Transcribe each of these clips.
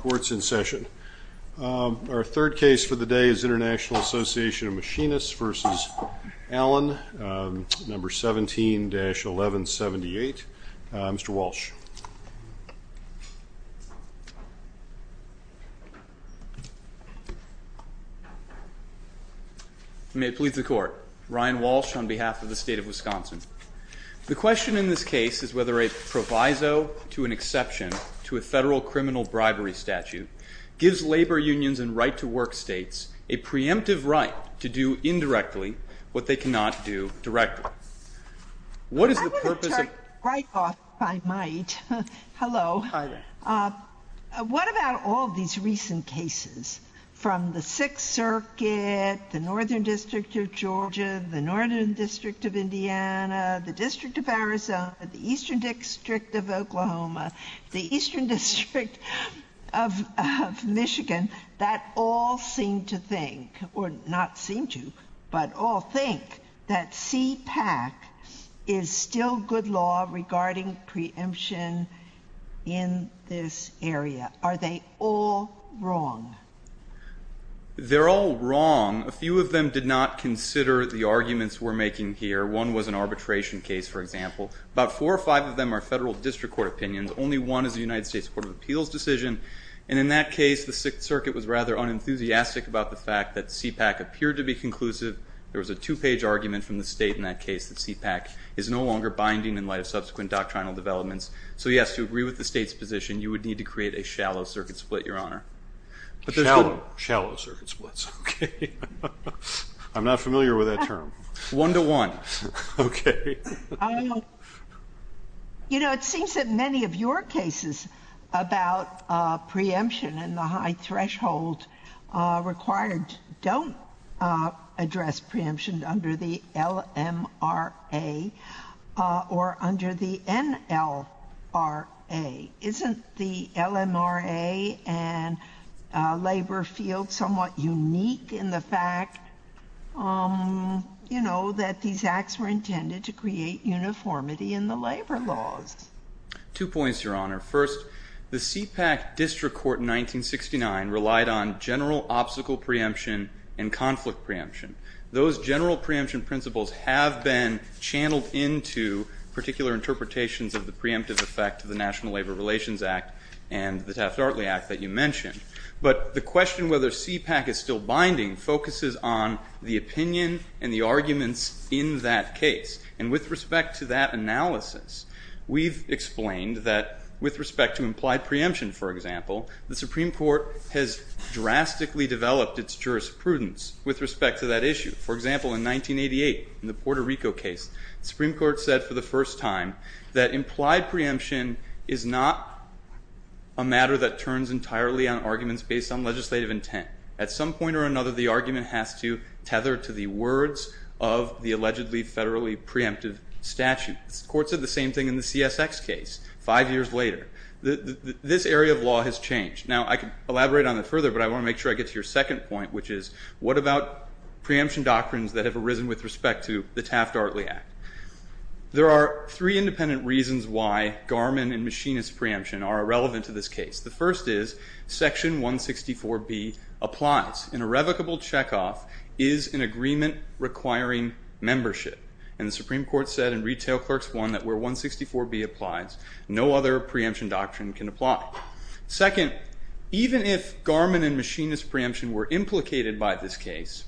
Court is in session. Our third case for the day is International Association of Machinists v. Allen, No. 17-1178. Mr. Walsh. May it please the Court. Ryan Walsh on behalf of the State of Wisconsin. The question in this case is whether a proviso to an exception to a federal criminal bribery statute gives labor unions and right-to-work states a preemptive right to do indirectly what they cannot do directly. What is the purpose of— I want to start right off, if I might. Hello. Hi there. What about all these recent cases from the Sixth Circuit, the Northern District of Georgia, the Northern District of Indiana, the District of Arizona, the Eastern District of Oklahoma, the Eastern District of Michigan, that all seem to think—or not seem to, but all think—that CPAC is still good law regarding preemption in this area? Are they all wrong? They're all wrong. A few of them did not consider the arguments we're making here. One was an arbitration case, for example. About four or five of them are federal district court opinions. Only one is a United States Court of Appeals decision. And in that case, the Sixth Circuit was rather unenthusiastic about the fact that CPAC appeared to be conclusive. There was a two-page argument from the State in that case that CPAC is no longer binding in light of subsequent doctrinal developments. So, yes, to agree with the State's position, you would need to create a shallow circuit split, Your Honor. Shallow circuit splits. Okay. I'm not familiar with that term. One-to-one. Okay. You know, it seems that many of your cases about preemption and the high threshold required don't address preemption under the LMRA or under the NLRA. Isn't the LMRA and labor field somewhat unique in the fact, you know, that these acts were intended to create uniformity in the labor laws? Two points, Your Honor. First, the CPAC district court in 1969 relied on general obstacle preemption and conflict preemption. Those general preemption principles have been channeled into particular interpretations of the preemptive effect of the National Labor Relations Act and the Taft-Artley Act that you mentioned. But the question whether CPAC is still binding focuses on the opinion and the arguments in that case. And with respect to that analysis, we've explained that with respect to implied preemption, for example, the Supreme Court has drastically developed its jurisprudence with respect to that issue. For example, in 1988, in the Puerto Rico case, the Supreme Court said for the first time that implied preemption is not a matter that turns entirely on arguments based on legislative intent. At some point or another, the argument has to tether to the words of the allegedly federally preemptive statute. The court said the same thing in the CSX case five years later. This area of law has changed. Now, I could elaborate on it further, but I want to make sure I get to your second point, which is what about preemption doctrines that have arisen with respect to the Taft-Artley Act? There are three independent reasons why Garmin and machinist preemption are irrelevant to this case. The first is Section 164B applies. An irrevocable checkoff is an agreement requiring membership. And the Supreme Court said in Retail Clerks I that where 164B applies, no other preemption doctrine can apply. Second, even if Garmin and machinist preemption were implicated by this case,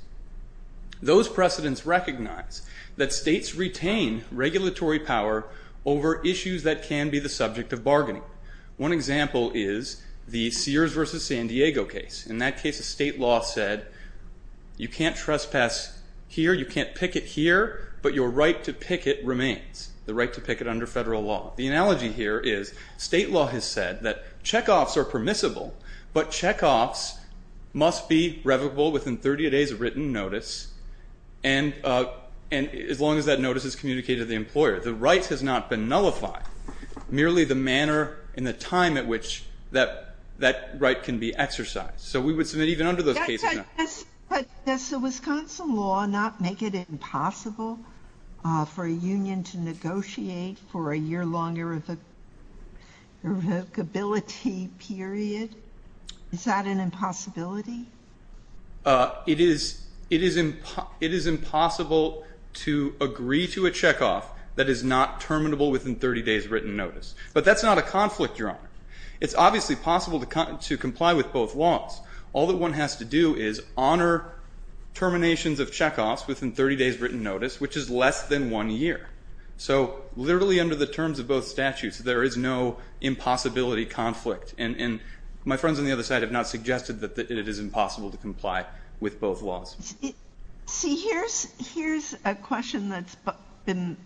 those precedents recognize that states retain regulatory power over issues that can be the subject of bargaining. One example is the Sears v. San Diego case. In that case, the state law said you can't trespass here, you can't picket here, but your right to picket remains, the right to picket under federal law. The analogy here is state law has said that checkoffs are permissible, but checkoffs must be revocable within 30 days of written notice, and as long as that notice is communicated to the employer. The right has not been nullified, merely the manner and the time at which that right can be exercised. So we would submit even under those cases now. But does the Wisconsin law not make it impossible for a union to negotiate for a year-long irrevocability period? Is that an impossibility? It is impossible to agree to a checkoff that is not terminable within 30 days of written notice. It's obviously possible to comply with both laws. All that one has to do is honor terminations of checkoffs within 30 days of written notice, which is less than one year. So literally under the terms of both statutes, there is no impossibility conflict. And my friends on the other side have not suggested that it is impossible to comply with both laws. See, here's a question that's been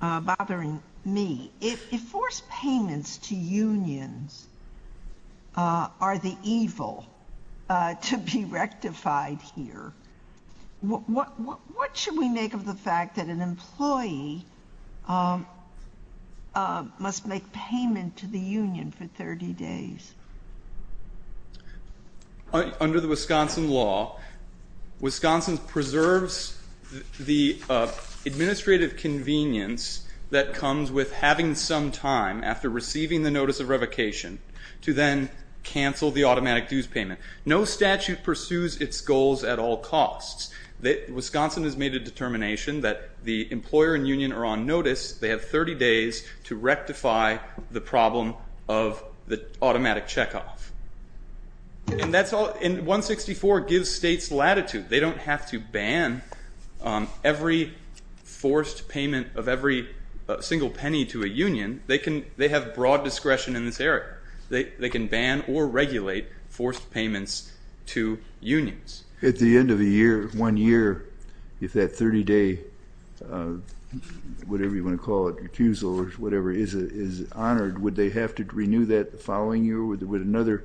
bothering me. If forced payments to unions are the evil to be rectified here, what should we make of the fact that an employee must make payment to the union for 30 days? Under the Wisconsin law, Wisconsin preserves the administrative convenience that comes with having some time after receiving the notice of revocation to then cancel the automatic dues payment. No statute pursues its goals at all costs. Wisconsin has made a determination that the employer and union are on notice. They have 30 days to rectify the problem of the automatic checkoff. And 164 gives states latitude. They don't have to ban every forced payment of every single penny to a union. They have broad discretion in this area. They can ban or regulate forced payments to unions. At the end of the year, one year, if that 30-day whatever you want to call it, is honored, would they have to renew that the following year? Would another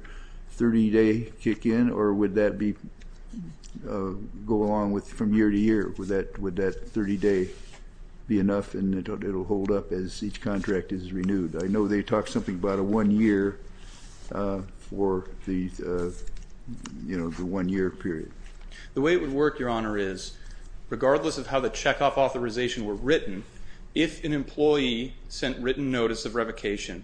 30-day kick in? Or would that go along from year to year? Would that 30-day be enough and it will hold up as each contract is renewed? I know they talk something about a one-year for the one-year period. The way it would work, Your Honor, is regardless of how the checkoff authorization were written, if an employee sent written notice of revocation,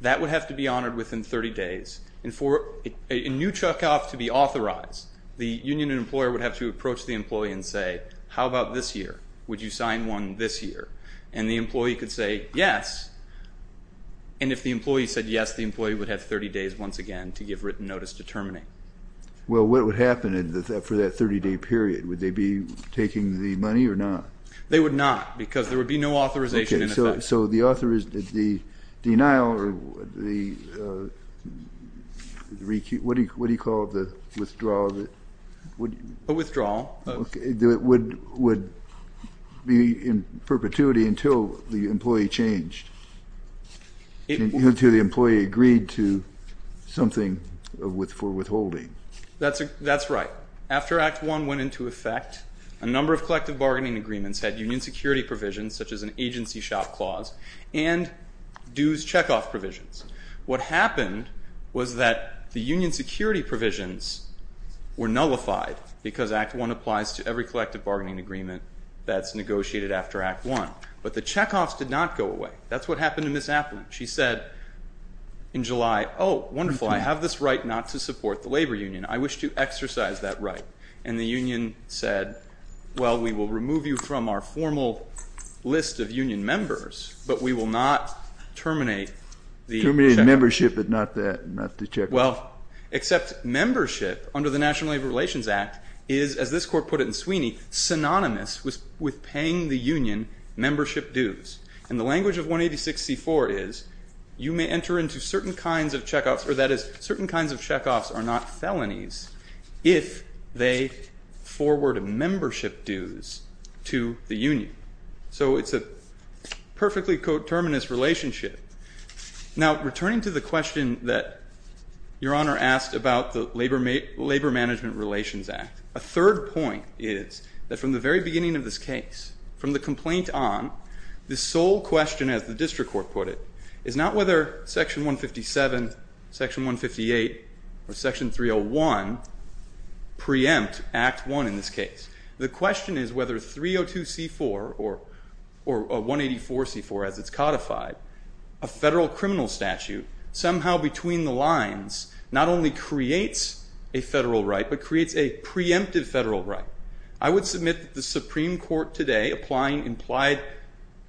that would have to be honored within 30 days. And for a new checkoff to be authorized, the union employer would have to approach the employee and say, how about this year? Would you sign one this year? And the employee could say yes. And if the employee said yes, the employee would have 30 days once again to give written notice determining. Well, what would happen for that 30-day period? Would they be taking the money or not? They would not because there would be no authorization in effect. Okay. So the denial or the what do you call it, the withdrawal? A withdrawal. Would be in perpetuity until the employee changed, until the employee agreed to something for withholding. That's right. After Act I went into effect, a number of collective bargaining agreements had union security provisions such as an agency shop clause and dues checkoff provisions. What happened was that the union security provisions were nullified because Act I applies to every collective bargaining agreement that's negotiated after Act I. But the checkoffs did not go away. That's what happened to Ms. Applin. She said in July, oh, wonderful, I have this right not to support the labor union. I wish to exercise that right. And the union said, well, we will remove you from our formal list of union members, but we will not terminate the checkoff. Terminate membership but not the checkoff. Well, except membership under the National Labor Relations Act is, as this Court put it in Sweeney, synonymous with paying the union membership dues. And the language of 186C4 is you may enter into certain kinds of checkoffs, or that is certain kinds of checkoffs are not felonies if they forward membership dues to the union. So it's a perfectly coterminous relationship. Now, returning to the question that Your Honor asked about the Labor Management Relations Act, a third point is that from the very beginning of this case, from the complaint on, the sole question, as the district court put it, is not whether Section 157, Section 158, or Section 301 preempt Act 1 in this case. The question is whether 302C4 or 184C4 as it's codified, a federal criminal statute, somehow between the lines not only creates a federal right but creates a preemptive federal right. I would submit that the Supreme Court today applying implied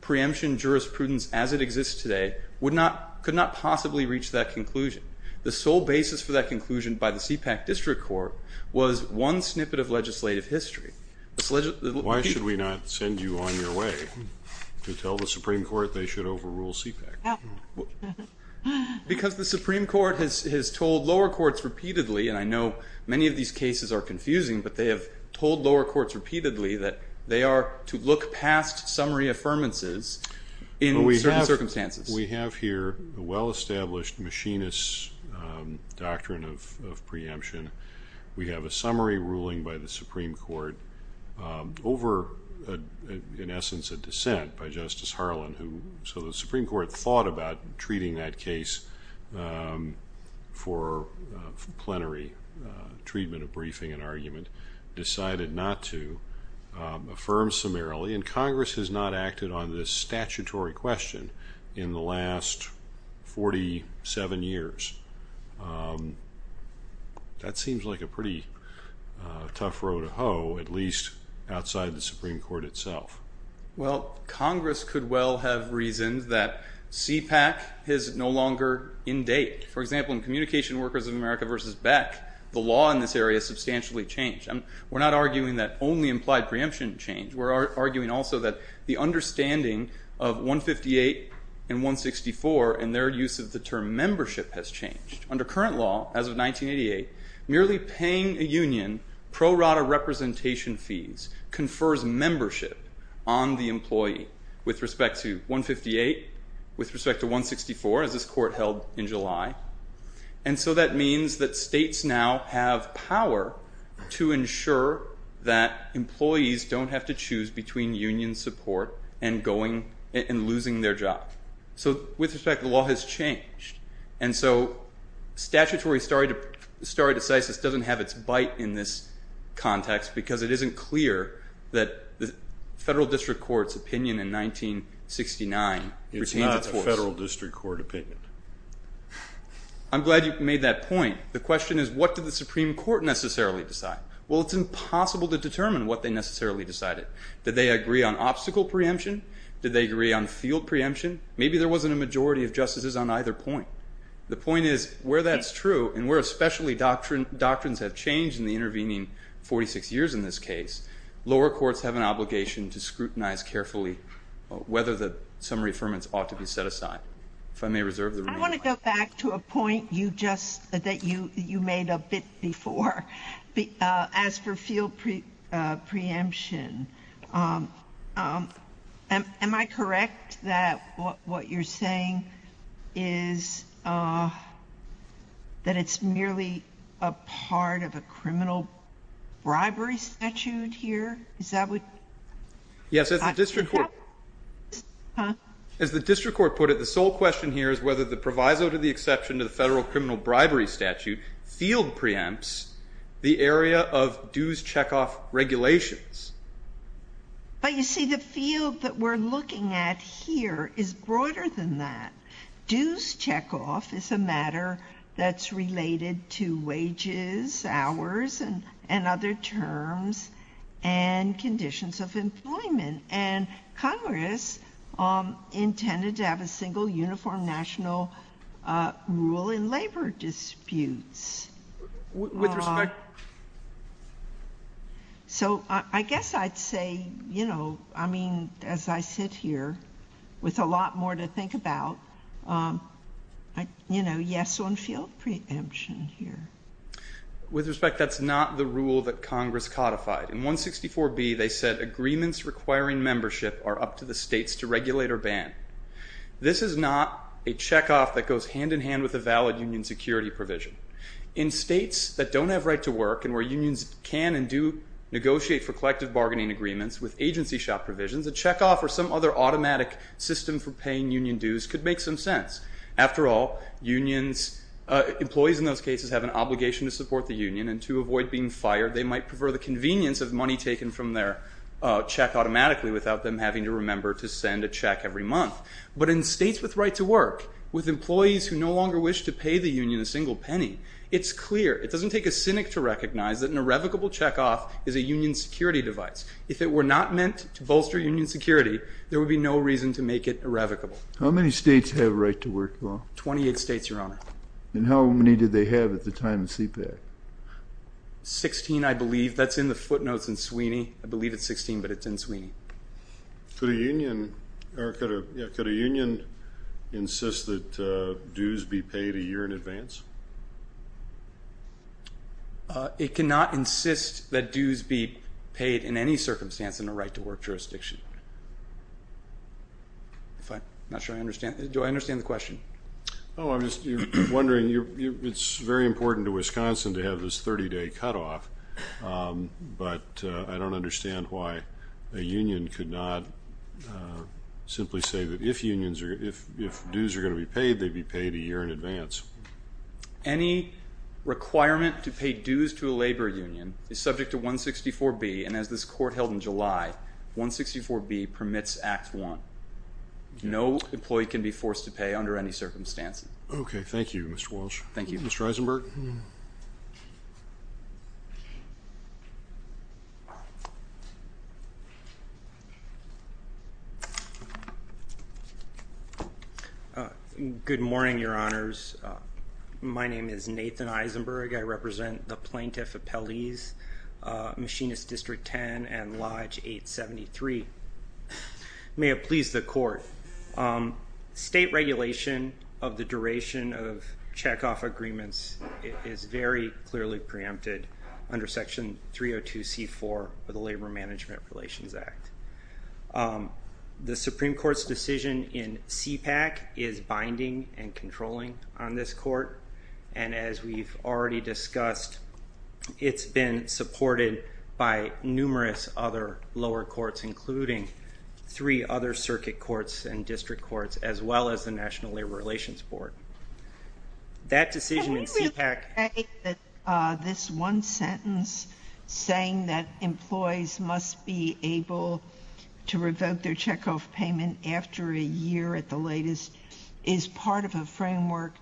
preemption jurisprudence as it exists today could not possibly reach that conclusion. The sole basis for that conclusion by the CPAC district court was one snippet of legislative history. Why should we not send you on your way to tell the Supreme Court they should overrule CPAC? Because the Supreme Court has told lower courts repeatedly, and I know many of these cases are confusing, but they have told lower courts repeatedly that they are to look past summary affirmances in certain circumstances. We have here a well-established machinist doctrine of preemption. We have a summary ruling by the Supreme Court over, in essence, a dissent by Justice Harlan. So the Supreme Court thought about treating that case for plenary treatment of briefing and argument, decided not to affirm summarily, and Congress has not acted on this statutory question in the last 47 years. That seems like a pretty tough row to hoe, at least outside the Supreme Court itself. Well, Congress could well have reasoned that CPAC is no longer in date. For example, in Communication Workers of America v. Beck, the law in this area substantially changed. We're not arguing that only implied preemption changed. We're arguing also that the understanding of 158 and 164 and their use of the term membership has changed. Under current law, as of 1988, merely paying a union pro rata representation fees confers membership on the employee with respect to 158, with respect to 164, as this court held in July. And so that means that states now have power to ensure that employees don't have to choose between union support and losing their job. So with respect, the law has changed. And so statutory stare decisis doesn't have its bite in this context, because it isn't clear that the Federal District Court's opinion in 1969 retains its force. It's not a Federal District Court opinion. I'm glad you made that point. The question is, what did the Supreme Court necessarily decide? Well, it's impossible to determine what they necessarily decided. Did they agree on obstacle preemption? Did they agree on field preemption? Maybe there wasn't a majority of justices on either point. The point is, where that's true, and where especially doctrines have changed in the intervening 46 years in this case, lower courts have an obligation to scrutinize carefully whether the summary affirmance ought to be set aside. If I may reserve the remaining time. I want to go back to a point that you made a bit before. As for field preemption, am I correct that what you're saying is that it's merely a part of a criminal bribery statute here? Is that what you're saying? Yes, as the district court put it, the sole question here is whether the proviso to the exception to the Federal criminal bribery statute field preempts the area of dues checkoff regulations. But you see, the field that we're looking at here is broader than that. Dues checkoff is a matter that's related to wages, hours, and other terms and conditions of employment. And Congress intended to have a single uniform national rule in labor disputes. With respect... So I guess I'd say, you know, I mean, as I sit here with a lot more to think about, you know, yes on field preemption here. With respect, that's not the rule that Congress codified. In 164B, they said agreements requiring membership are up to the states to regulate or ban. This is not a checkoff that goes hand in hand with a valid union security provision. In states that don't have right to work and where unions can and do negotiate for collective bargaining agreements with agency shop provisions, a checkoff or some other automatic system for paying union dues could make some sense. After all, unions, employees in those cases have an obligation to support the union. And to avoid being fired, they might prefer the convenience of money taken from their check automatically without them having to remember to send a check every month. But in states with right to work, with employees who no longer wish to pay the union a single penny, it's clear. It doesn't take a cynic to recognize that an irrevocable checkoff is a union security device. If it were not meant to bolster union security, there would be no reason to make it irrevocable. How many states have right to work law? Twenty-eight states, Your Honor. And how many did they have at the time of CPAC? Sixteen, I believe. That's in the footnotes in Sweeney. I believe it's 16, but it's in Sweeney. Could a union insist that dues be paid a year in advance? It cannot insist that dues be paid in any circumstance in a right to work jurisdiction. I'm not sure I understand. Do I understand the question? Oh, I'm just wondering. It's very important to Wisconsin to have this 30-day cutoff, but I don't understand why a union could not simply say that if dues are going to be paid, they'd be paid a year in advance. Any requirement to pay dues to a labor union is subject to 164B, and as this court held in July, 164B permits Act I. No employee can be forced to pay under any circumstances. Okay. Thank you, Mr. Walsh. Thank you. Mr. Eisenberg? Good morning, Your Honors. My name is Nathan Eisenberg. I represent the Plaintiff Appellees, Machinist District 10 and Lodge 873. May it please the Court. State regulation of the duration of checkoff agreements is very clearly preempted under Section 302C.4 of the Labor Management Relations Act. The Supreme Court's decision in CPAC is binding and controlling on this court, and as we've already discussed, it's been supported by numerous other lower courts, including three other circuit courts and district courts, as well as the National Labor Relations Board. That decision in CPAC — Can we really say that this one sentence saying that employees must be able to revoke their checkoff payment after a year at the latest is part of a framework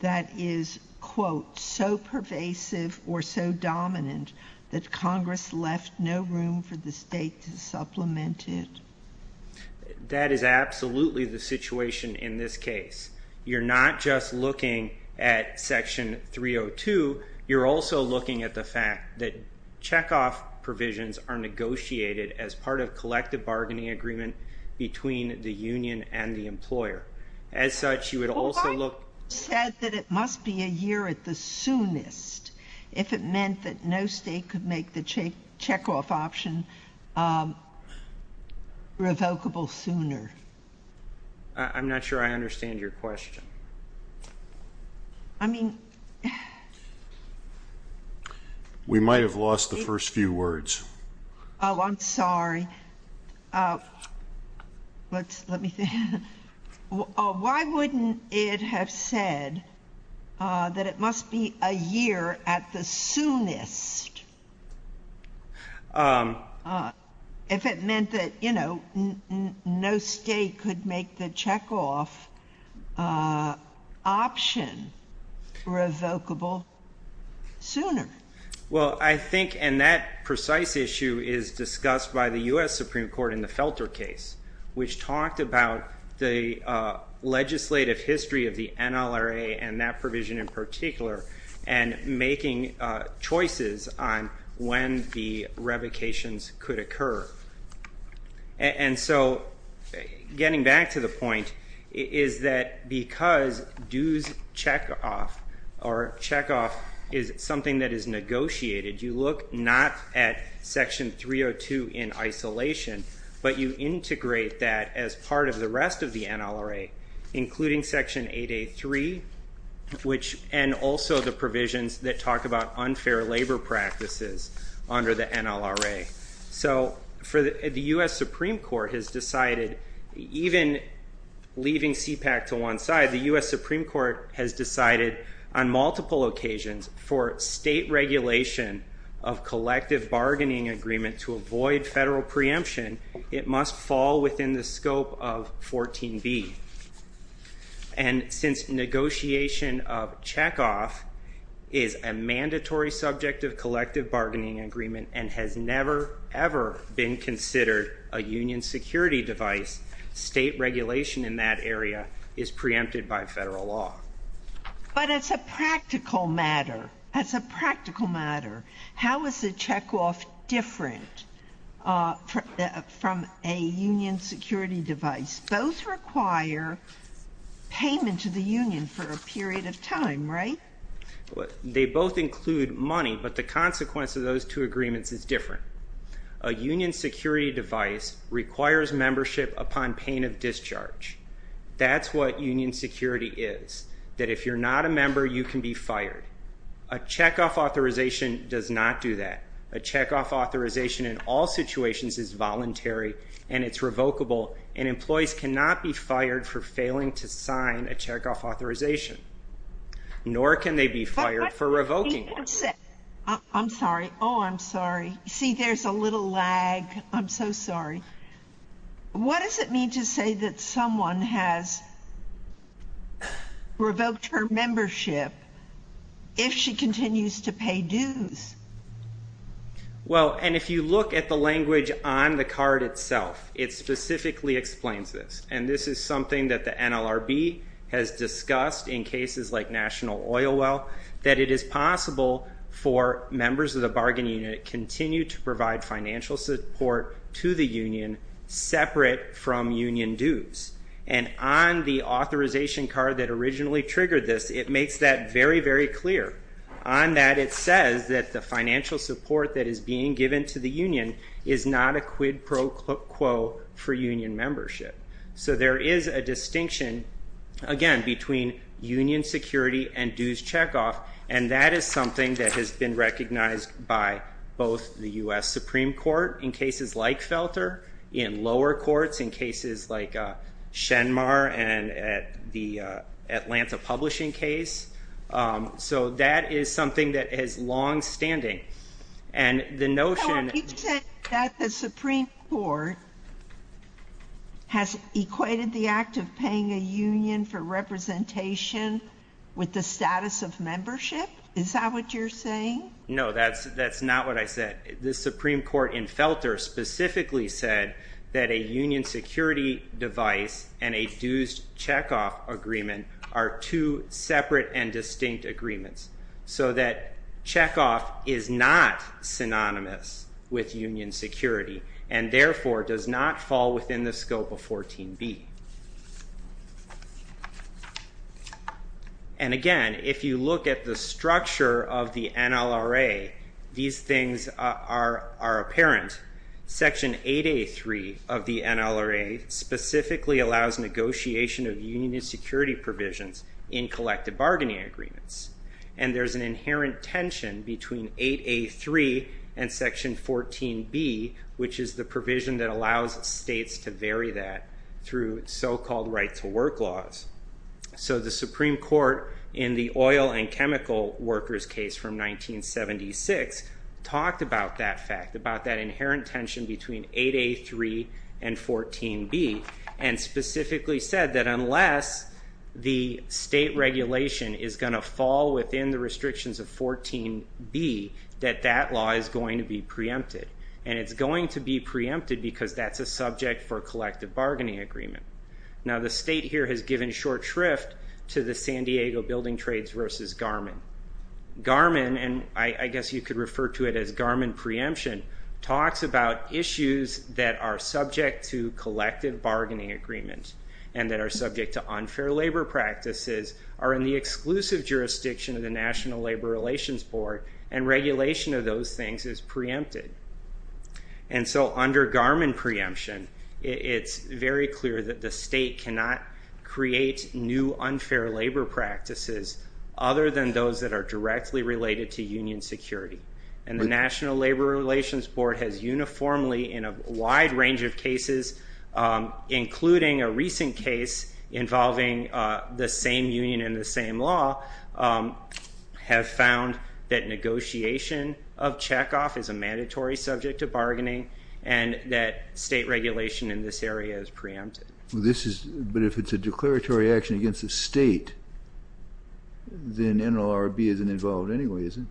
that is, quote, so pervasive or so dominant that Congress left no room for the state to supplement it? That is absolutely the situation in this case. You're not just looking at Section 302. You're also looking at the fact that checkoff provisions are negotiated as part of collective bargaining agreement between the union and the employer. As such, you would also look — Well, I said that it must be a year at the soonest, if it meant that no state could make the checkoff option revocable sooner. I'm not sure I understand your question. I mean — We might have lost the first few words. Oh, I'm sorry. Let me think. Why wouldn't it have said that it must be a year at the soonest if it meant that, you know, no state could make the checkoff option revocable sooner? Well, I think — and that precise issue is discussed by the U.S. Supreme Court in the Felter case, which talked about the legislative history of the NLRA and that provision in particular and making choices on when the revocations could occur. And so getting back to the point is that because dues checkoff or checkoff is something that is negotiated, you look not at Section 302 in isolation, but you integrate that as part of the rest of the NLRA, including Section 883, and also the provisions that talk about unfair labor practices under the NLRA. So the U.S. Supreme Court has decided, even leaving CPAC to one side, the U.S. Supreme Court has decided on multiple occasions for state regulation of collective bargaining agreement to avoid federal preemption, it must fall within the scope of 14b. And since negotiation of checkoff is a mandatory subject of collective bargaining agreement and has never, ever been considered a union security device, state regulation in that area is preempted by federal law. But as a practical matter, as a practical matter, how is the checkoff different from a union security device? Both require payment to the union for a period of time, right? They both include money, but the consequence of those two agreements is different. A union security device requires membership upon pain of discharge. That's what union security is, that if you're not a member, you can be fired. A checkoff authorization does not do that. A checkoff authorization in all situations is voluntary and it's revocable, and employees cannot be fired for failing to sign a checkoff authorization, nor can they be fired for revoking one. I'm sorry. Oh, I'm sorry. See, there's a little lag. I'm so sorry. What does it mean to say that someone has revoked her membership if she continues to pay dues? Well, and if you look at the language on the card itself, it specifically explains this, and this is something that the NLRB has discussed in cases like National Oil Well, that it is possible for members of the bargaining unit to continue to provide financial support to the union separate from union dues. And on the authorization card that originally triggered this, it makes that very, very clear. On that it says that the financial support that is being given to the union is not a quid pro quo for union membership. So there is a distinction, again, between union security and dues checkoff, and that is something that has been recognized by both the U.S. Supreme Court in cases like Felter, in lower courts, in cases like Shenmar and the Atlanta publishing case. So that is something that is longstanding. You said that the Supreme Court has equated the act of paying a union for representation with the status of membership? Is that what you're saying? No, that's not what I said. The Supreme Court in Felter specifically said that a union security device and a dues checkoff agreement are two separate and distinct agreements, so that checkoff is not synonymous with union security and therefore does not fall within the scope of 14B. And again, if you look at the structure of the NLRA, these things are apparent. Section 8A.3 of the NLRA specifically allows negotiation of union security provisions in collective bargaining agreements. And there's an inherent tension between 8A.3 and Section 14B, which is the provision that allows states to vary that through so-called right-to-work laws. So the Supreme Court in the oil and chemical workers case from 1976 talked about that fact, about that inherent tension between 8A.3 and 14B, and specifically said that unless the state regulation is going to fall within the restrictions of 14B, that that law is going to be preempted. And it's going to be preempted because that's a subject for a collective bargaining agreement. Now, the state here has given short shrift to the San Diego Building Trades versus Garmin. Garmin, and I guess you could refer to it as Garmin preemption, talks about issues that are subject to collective bargaining agreements and that are subject to unfair labor practices, are in the exclusive jurisdiction of the National Labor Relations Board, and regulation of those things is preempted. And so under Garmin preemption, it's very clear that the state cannot create new unfair labor practices other than those that are directly related to union security. And the National Labor Relations Board has uniformly in a wide range of cases, including a recent case involving the same union and the same law, have found that negotiation of checkoff is a mandatory subject to bargaining and that state regulation in this area is preempted. But if it's a declaratory action against the state, then NLRB isn't involved anyway, is it?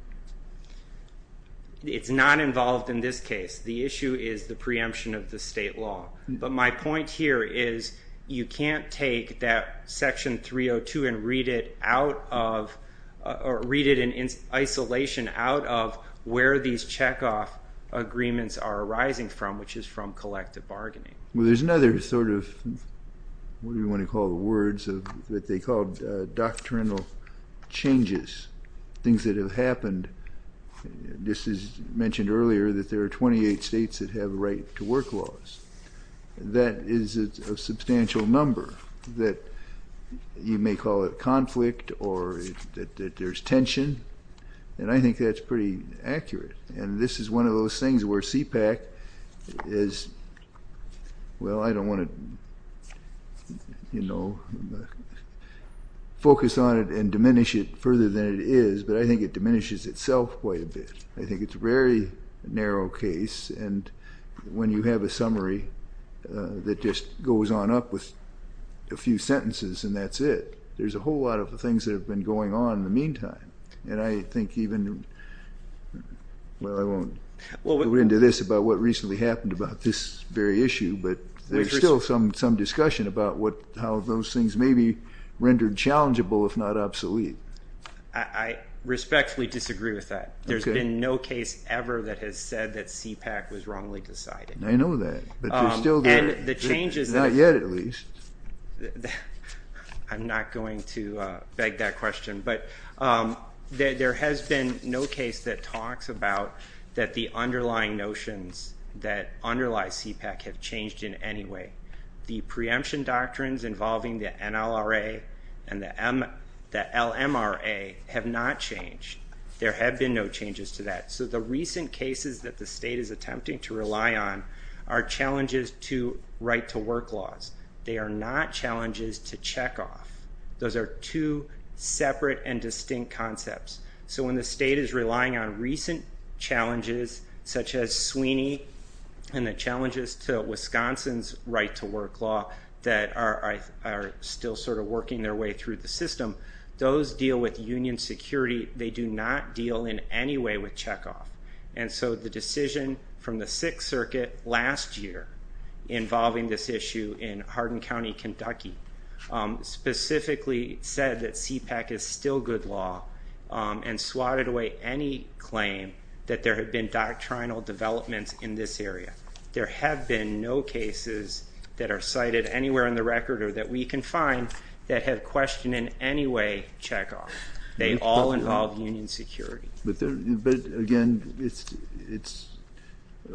It's not involved in this case. The issue is the preemption of the state law. But my point here is you can't take that Section 302 and read it out of, or read it in isolation out of where these checkoff agreements are arising from, which is from collective bargaining. Well, there's another sort of, what do you want to call the words, that they called doctrinal changes, things that have happened. This is mentioned earlier that there are 28 states that have a right to work laws. That is a substantial number that you may call it conflict or that there's tension, and I think that's pretty accurate. And this is one of those things where CPAC is, well, I don't want to focus on it and diminish it further than it is, but I think it diminishes itself quite a bit. I think it's a very narrow case, and when you have a summary that just goes on up with a few sentences and that's it, there's a whole lot of things that have been going on in the meantime. And I think even, well, I won't go into this about what recently happened about this very issue, but there's still some discussion about how those things may be rendered challengeable if not obsolete. I respectfully disagree with that. There's been no case ever that has said that CPAC was wrongly decided. I know that, but there's still there. Not yet, at least. I'm not going to beg that question. But there has been no case that talks about that the underlying notions that underlie CPAC have changed in any way. The preemption doctrines involving the NLRA and the LMRA have not changed. There have been no changes to that. So the recent cases that the state is attempting to rely on are challenges to right-to-work laws. They are not challenges to checkoff. Those are two separate and distinct concepts. So when the state is relying on recent challenges such as Sweeney and the challenges to Wisconsin's right-to-work law that are still sort of working their way through the system, those deal with union security. They do not deal in any way with checkoff. And so the decision from the Sixth Circuit last year involving this issue in Hardin County, Kentucky, specifically said that CPAC is still good law and swatted away any claim that there had been doctrinal developments in this area. There have been no cases that are cited anywhere in the record or that we can find that have questioned in any way checkoff. They all involve union security. But, again,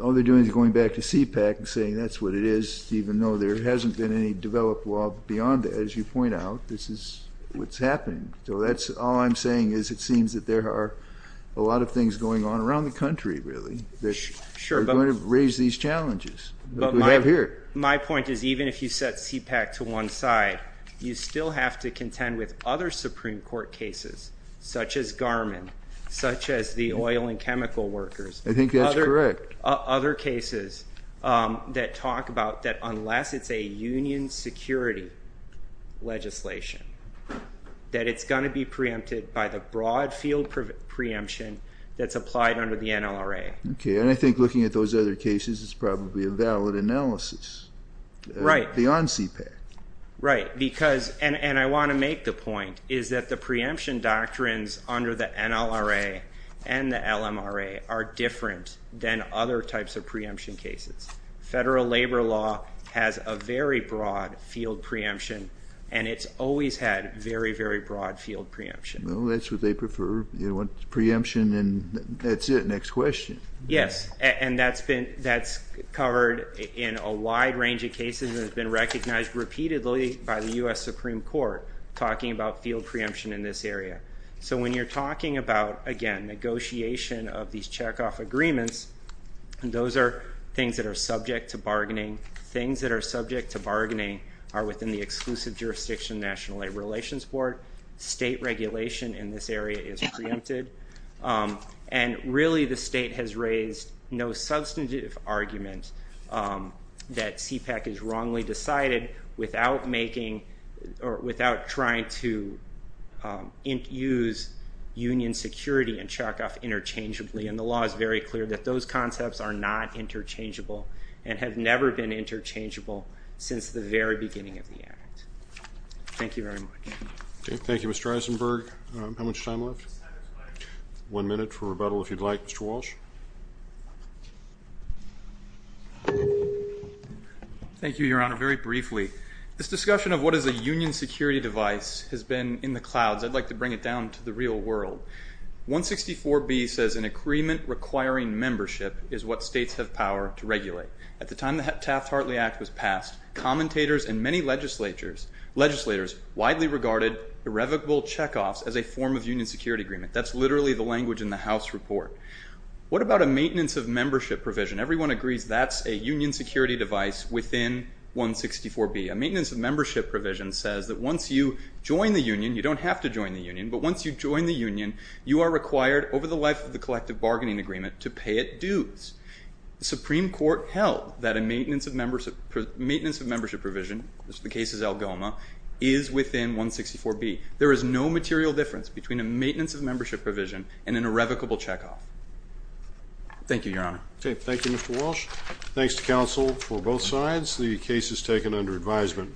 all they're doing is going back to CPAC and saying that's what it is, even though there hasn't been any developed law beyond that. As you point out, this is what's happening. So all I'm saying is it seems that there are a lot of things going on around the country, really, that are going to raise these challenges that we have here. My point is even if you set CPAC to one side, you still have to contend with other Supreme Court cases such as Garmin, such as the oil and chemical workers. I think that's correct. There are other cases that talk about that unless it's a union security legislation, that it's going to be preempted by the broad field preemption that's applied under the NLRA. Okay. And I think looking at those other cases, it's probably a valid analysis. Right. Beyond CPAC. Right. Because, and I want to make the point, is that the preemption doctrines under the NLRA and the LMRA are different than other types of preemption cases. Federal labor law has a very broad field preemption, and it's always had very, very broad field preemption. Well, that's what they prefer, preemption and that's it. Next question. Yes. And that's covered in a wide range of cases and has been recognized repeatedly by the U.S. Supreme Court, talking about field preemption in this area. So when you're talking about, again, negotiation of these checkoff agreements, those are things that are subject to bargaining. Things that are subject to bargaining are within the exclusive jurisdiction of the National Labor Relations Board. State regulation in this area is preempted. And, really, the state has raised no substantive argument that CPAC is wrongly decided without making or without trying to use union security and checkoff interchangeably. And the law is very clear that those concepts are not interchangeable and have never been interchangeable since the very beginning of the act. Thank you very much. Thank you, Mr. Eisenberg. How much time left? One minute for rebuttal, if you'd like. Mr. Walsh. Thank you, Your Honor. Very briefly, this discussion of what is a union security device has been in the clouds. I'd like to bring it down to the real world. 164B says an agreement requiring membership is what states have power to regulate. At the time the Taft-Hartley Act was passed, commentators and many legislators widely regarded irrevocable checkoffs as a form of union security agreement. That's literally the language in the House report. What about a maintenance of membership provision? Everyone agrees that's a union security device within 164B. A maintenance of membership provision says that once you join the union, you don't have to join the union, but once you join the union, you are required, over the life of the collective bargaining agreement, to pay it dues. The Supreme Court held that a maintenance of membership provision, the case is Algoma, is within 164B. There is no material difference between a maintenance of membership provision and an irrevocable checkoff. Thank you, Your Honor. Thank you, Mr. Walsh. Thanks to counsel for both sides. The case is taken under advisement.